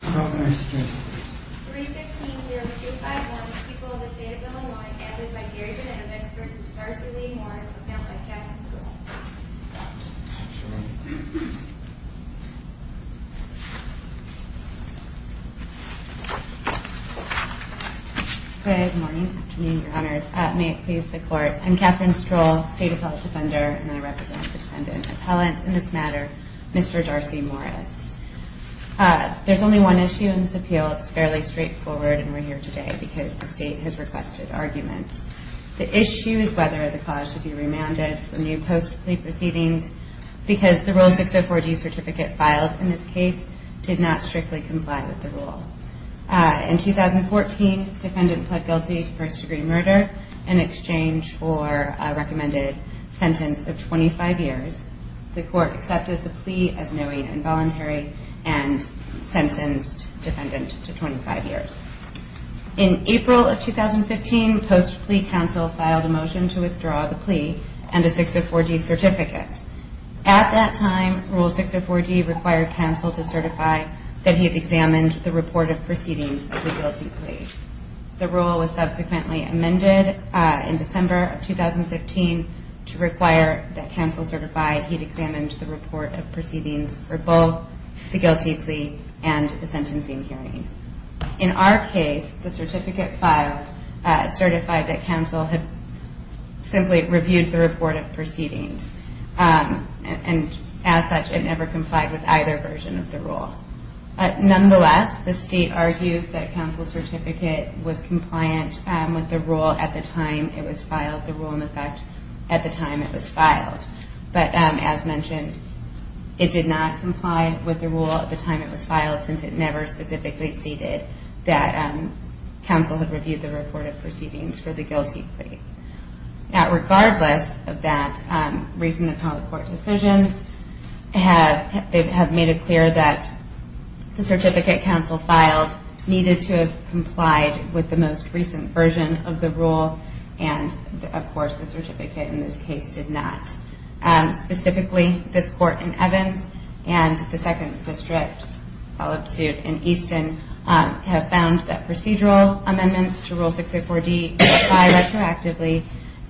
Good morning. May it please the court. I'm Kathryn Stroll, State Appellate Defender, and I represent the Defendant Appellant in this matter, Mr. Darcy Morris. There's only one issue in this appeal. It's fairly straightforward, and we're here today because the State has requested argument. The issue is whether the clause should be remanded for new post-plea proceedings because the Rule 604D certificate filed in this case did not strictly comply with the rule. In 2014, the Defendant pled guilty to first-degree murder in exchange for a recommended sentence of 25 years. The court accepted the plea as knowing and voluntary and sentenced the Defendant to 25 years. In April of 2015, post-plea counsel filed a motion to withdraw the plea and a 604D certificate. At that time, Rule 604D required counsel to certify that he had examined the report of proceedings of the guilty plea. The rule was subsequently amended in December of 2015 to require that counsel certify he'd examined the report of proceedings for both the guilty plea and the sentencing hearing. In our case, the certificate filed certified that counsel had simply reviewed the report of proceedings, and as such, it never complied with either version of the rule. Now, regardless of that, recent appellate court decisions have made it clear that the certificate counsel filed needed to have complied with the most recent version of the rule, and, of course, the certificate in this case did not. Specifically, this Court in Evans and the Second District, followed suit in Easton, have found that procedural amendments to Rule 604D apply retroactively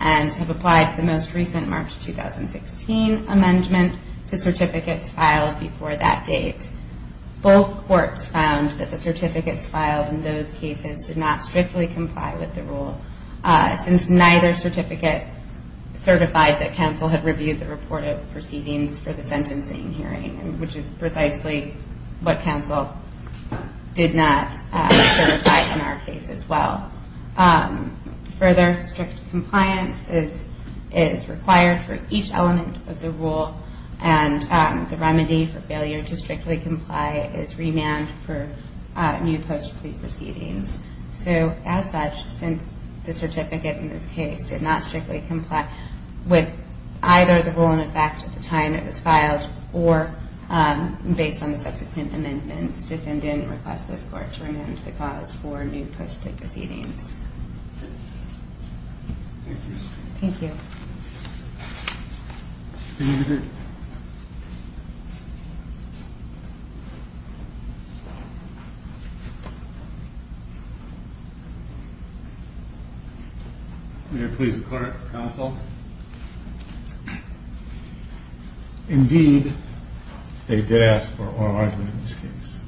and have applied the most recent March 2016 amendment to certificates filed before that date. Both courts found that the certificates filed in those cases did not strictly comply with the rule, since neither certificate certified that counsel had reviewed the report of proceedings for the sentencing hearing, which is precisely what counsel did not certify in our case as well. Further, strict compliance is required for each element of the rule, and the remedy for failure to strictly comply is remand for new post-plea proceedings. So, as such, since the certificate in this case did not strictly comply with either the rule in effect at the time it was filed, or based on the subsequent amendments, defendant requests this Court to remand the cause for new post-plea proceedings. Thank you. Thank you. May I please the Court, Counsel? Indeed, they did ask for an oral argument in this case.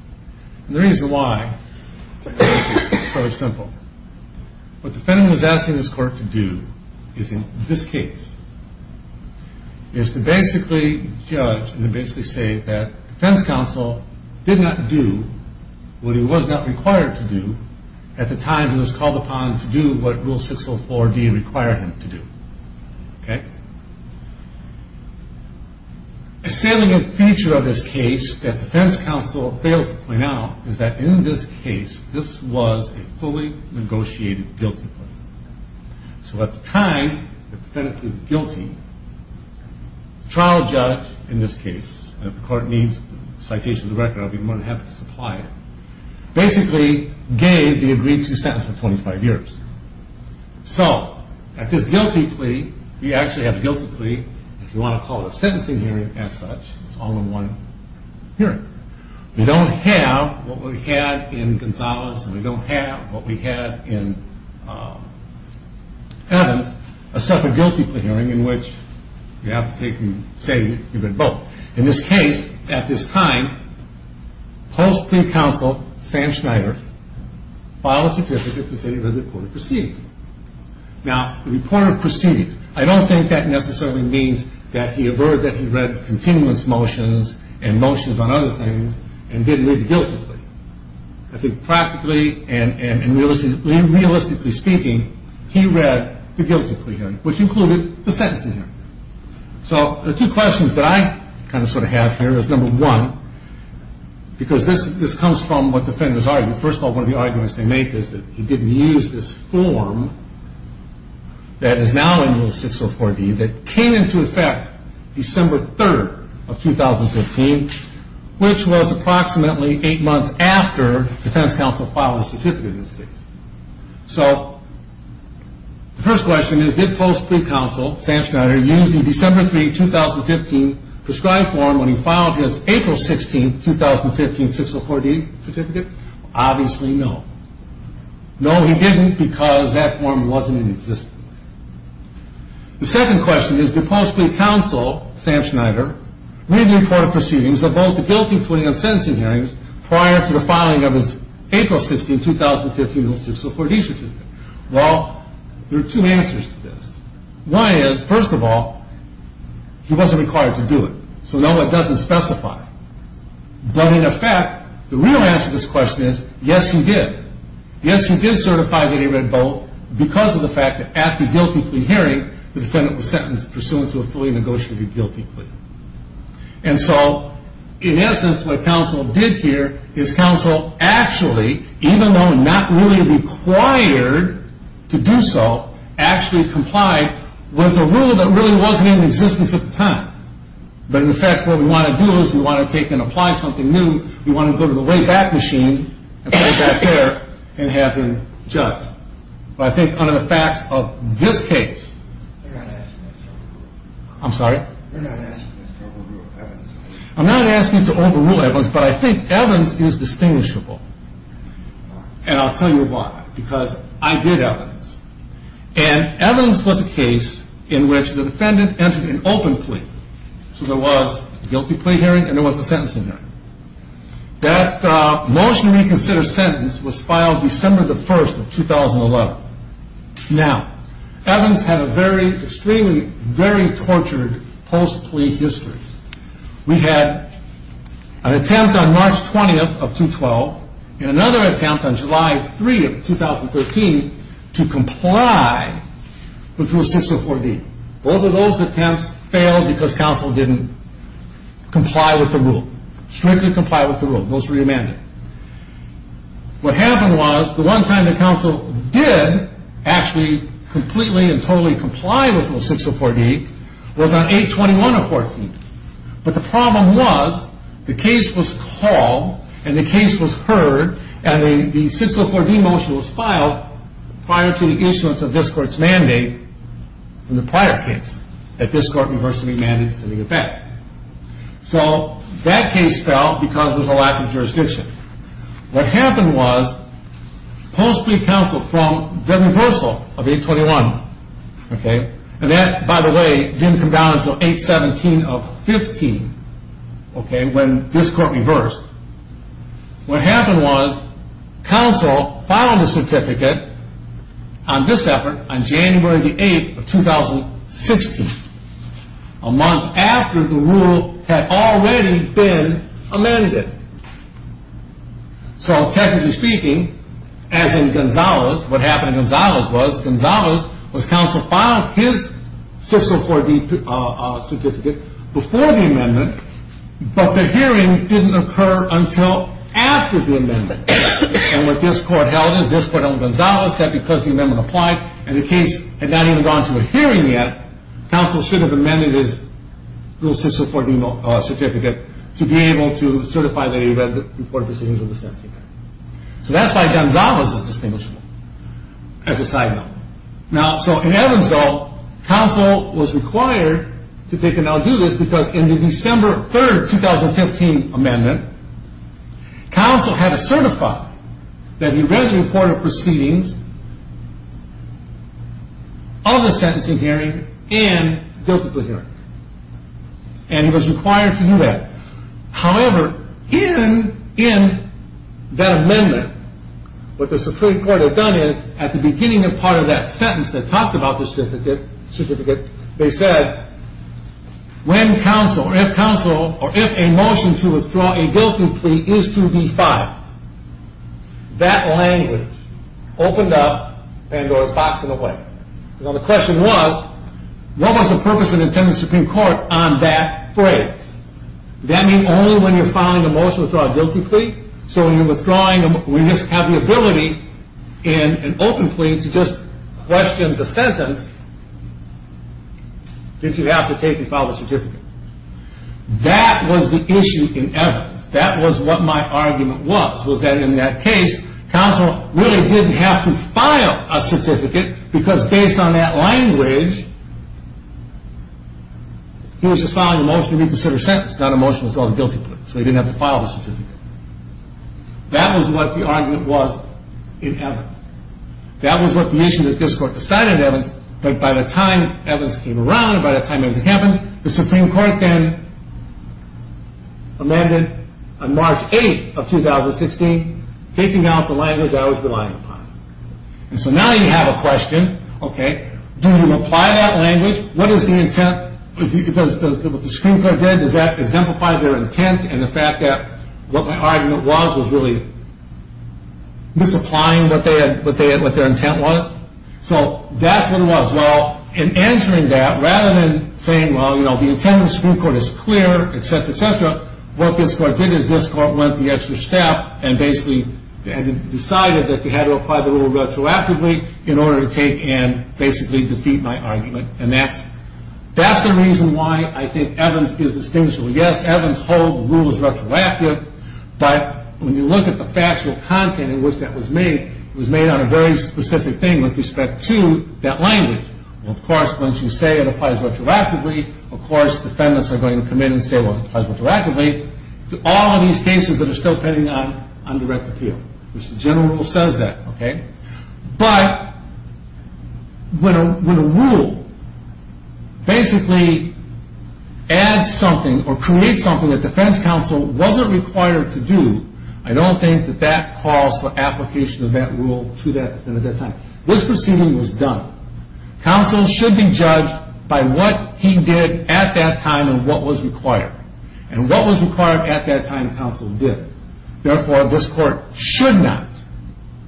And the reason why is fairly simple. What the defendant was asking this Court to do is, in this case, is to basically judge and to basically say that defense counsel did not do what he was not required to do at the time he was called upon to do what Rule 604D required him to do. Okay? A salient feature of this case that defense counsel failed to point out is that in this case, this was a fully negotiated guilty plea. So at the time, the defendant pleaded guilty. The trial judge in this case, and if the Court needs the citation of the record, I'll be more than happy to supply it, basically gave the agreed-to sentence of 25 years. So, at this guilty plea, you actually have a guilty plea, if you want to call it a sentencing hearing as such, it's all in one hearing. We don't have what we had in Gonzales, and we don't have what we had in Evans, a separate guilty plea hearing in which you have to say you've been both. In this case, at this time, post-plea counsel, Sam Schneider, filed a certificate to say that the reporter proceeded. Now, the reporter proceeded. I don't think that necessarily means that he averred that he read the continuance motions and motions on other things and did read the guilty plea. I think practically and realistically speaking, he read the guilty plea hearing, which included the sentencing hearing. So, the two questions that I kind of sort of have here is number one, because this comes from what defendants argue. First of all, one of the arguments they make is that he didn't use this form that is now in Rule 604D that came into effect December 3rd of 2015, which was approximately eight months after defense counsel filed a certificate in this case. So, the first question is, did post-plea counsel, Sam Schneider, use the December 3rd, 2015 prescribed form when he filed his April 16th, 2015, 604D certificate? Obviously, no. No, he didn't because that form wasn't in existence. The second question is, did post-plea counsel, Sam Schneider, read the reported proceedings of both the guilty plea and sentencing hearings prior to the filing of his April 16th, 2015, 604D certificate? Well, there are two answers to this. One is, first of all, he wasn't required to do it. So, no, it doesn't specify. But in effect, the real answer to this question is, yes, he did. Yes, he did certify that he read both because of the fact that at the guilty plea hearing, the defendant was sentenced pursuant to a fully negotiated guilty plea. And so, in essence, what counsel did here is counsel actually, even though not really required to do so, actually complied with a rule that really wasn't in existence at the time. But in effect, what we want to do is we want to take and apply something new. We want to go to the wayback machine and put it back there and have him judged. But I think under the facts of this case, I'm sorry? You're not asking us to overrule Evans. I'm not asking you to overrule Evans, but I think Evans is distinguishable. And I'll tell you why, because I did Evans. And Evans was a case in which the defendant entered an open plea. So there was a guilty plea hearing and there was a sentencing hearing. That motion to reconsider sentence was filed December the 1st of 2011. Now, Evans had a very, extremely, very tortured post-plea history. We had an attempt on March 20th of 2012 and another attempt on July 3rd of 2013 to comply with Rule 604B. Both of those attempts failed because counsel didn't comply with the rule, strictly comply with the rule. Those were re-amended. What happened was the one time that counsel did actually completely and totally comply with Rule 604B was on 8-21-14. But the problem was the case was called and the case was heard and the 604B motion was filed prior to the issuance of this court's mandate in the prior case that this court reversed the mandate to send the defendant. So that case fell because there was a lack of jurisdiction. What happened was post-plea counsel from the reversal of 8-21, and that, by the way, didn't come down until 8-17-15 when this court reversed, what happened was counsel filed a certificate on this effort on January 8th of 2016, a month after the rule had already been amended. So technically speaking, as in Gonzales, what happened in Gonzales was, Gonzales was counsel filed his 604B certificate before the amendment, but the hearing didn't occur until after the amendment. And what this court held is, this court held in Gonzales, that because the amendment applied and the case had not even gone to a hearing yet, counsel should have amended his Rule 604B certificate to be able to certify that he read the court proceedings of the sentencing. So that's why Gonzales is distinguishable as a side note. Now, so in Evansville, counsel was required to do this because in the December 3rd, 2015 amendment, counsel had to certify that he read the court proceedings of the sentencing hearing and guilty plea hearings. And he was required to do that. However, in that amendment, what the Supreme Court had done is, at the beginning of part of that sentence that talked about the certificate, they said, when counsel, or if counsel, or if a motion to withdraw a guilty plea is to be filed, that language opened up Pandora's box in a way. Now the question was, what was the purpose of the intended Supreme Court on that phrase? Did that mean only when you're filing a motion to withdraw a guilty plea? So when you're withdrawing, we just have the ability in an open plea to just question the sentence. Did you have to take and file a certificate? That was the issue in Evans. That was what my argument was, was that in that case, counsel really didn't have to file a certificate because based on that language, he was just filing a motion to reconsider a sentence. That motion was called a guilty plea, so he didn't have to file a certificate. That was what the argument was in Evans. That was what the issue that this court decided in Evans, that by the time Evans came around, by the time it happened, the Supreme Court then amended on March 8th of 2016, taking out the language I was relying upon. So now you have a question. Do you apply that language? What is the intent? Does what the Supreme Court did, does that exemplify their intent and the fact that what my argument was was really misapplying what their intent was? So that's what it was. Well, in answering that, rather than saying, well, you know, the intent of the Supreme Court is clear, et cetera, et cetera, what this court did is this court went the extra step and basically decided that they had to apply the rule retroactively in order to take and basically defeat my argument. And that's the reason why I think Evans is distinguishable. Yes, Evans holds the rule is retroactive, but when you look at the factual content in which that was made, it was made on a very specific thing with respect to that language. Of course, once you say it applies retroactively, of course defendants are going to come in and say, well, it applies retroactively. All of these cases that are still pending on direct appeal, which the general rule says that. But when a rule basically adds something or creates something that defense counsel wasn't required to do, I don't think that that calls for application of that rule to that defendant at that time. This proceeding was done. Counsel should be judged by what he did at that time and what was required. And what was required at that time counsel did. Therefore, this court should not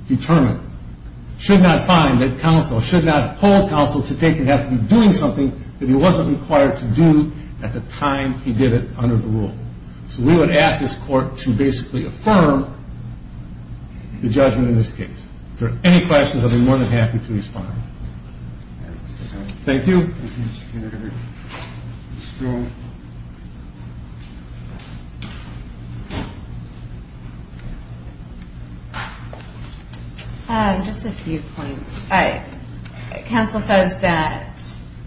determine, should not find that counsel, should not hold counsel to take and have to be doing something that he wasn't required to do at the time he did it under the rule. So we would ask this court to basically affirm the judgment in this case. If there are any questions, I'd be more than happy to respond. Thank you. Any other questions for Ms. Stone? Just a few points. Counsel says that,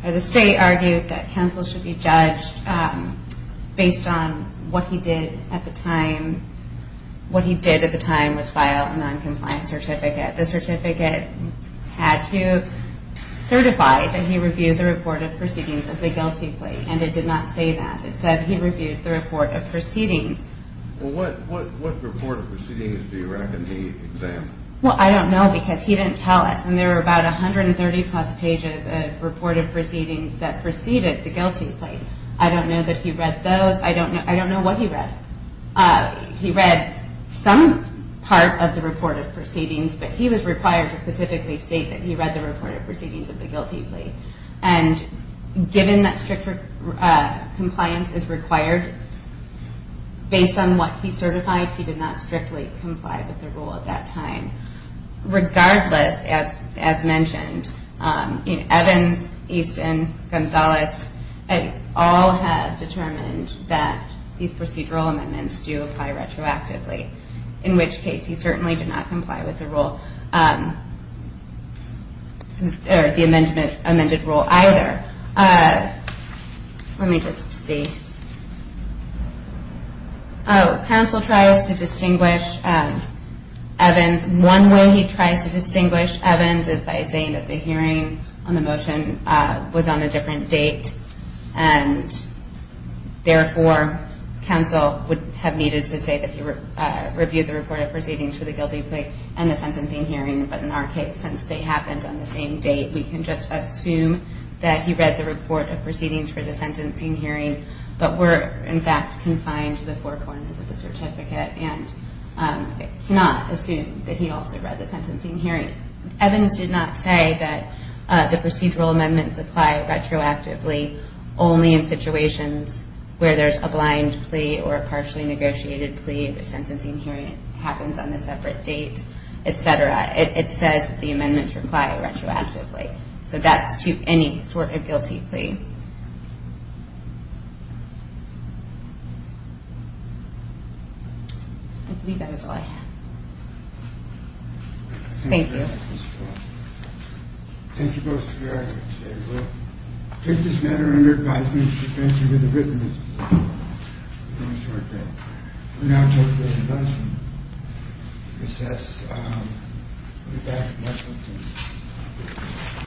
or the state argues that counsel should be judged based on what he did at the time. What he did at the time was file a non-compliant certificate. The certificate had to certify that he reviewed the report of proceedings of the guilty plea. And it did not say that. It said he reviewed the report of proceedings. Well, what report of proceedings do you reckon he examined? Well, I don't know because he didn't tell us. And there were about 130-plus pages of report of proceedings that preceded the guilty plea. I don't know that he read those. I don't know what he read. He read some part of the report of proceedings, but he was required to specifically state that he read the report of proceedings of the guilty plea. And given that strict compliance is required based on what he certified, he did not strictly comply with the rule at that time. Regardless, as mentioned, Evans, Easton, Gonzalez, all have determined that these procedural amendments do apply retroactively, in which case he certainly did not comply with the rule or the amended rule either. Let me just see. Oh, counsel tries to distinguish Evans. And one way he tries to distinguish Evans is by saying that the hearing on the motion was on a different date, and therefore counsel would have needed to say that he reviewed the report of proceedings for the guilty plea and the sentencing hearing, but in our case, since they happened on the same date, we can just assume that he read the report of proceedings for the sentencing hearing, but were, in fact, confined to the four corners of the certificate and cannot assume that he also read the sentencing hearing. Evans did not say that the procedural amendments apply retroactively only in situations where there's a blind plea or a partially negotiated plea, the sentencing hearing happens on a separate date, et cetera. It says the amendments apply retroactively. So that's to any sort of guilty plea. I believe that is all I have. Thank you. Thank you both for your answers today. We'll take this matter under advisement. We thank you for the witness. We'll now take this advice and recess.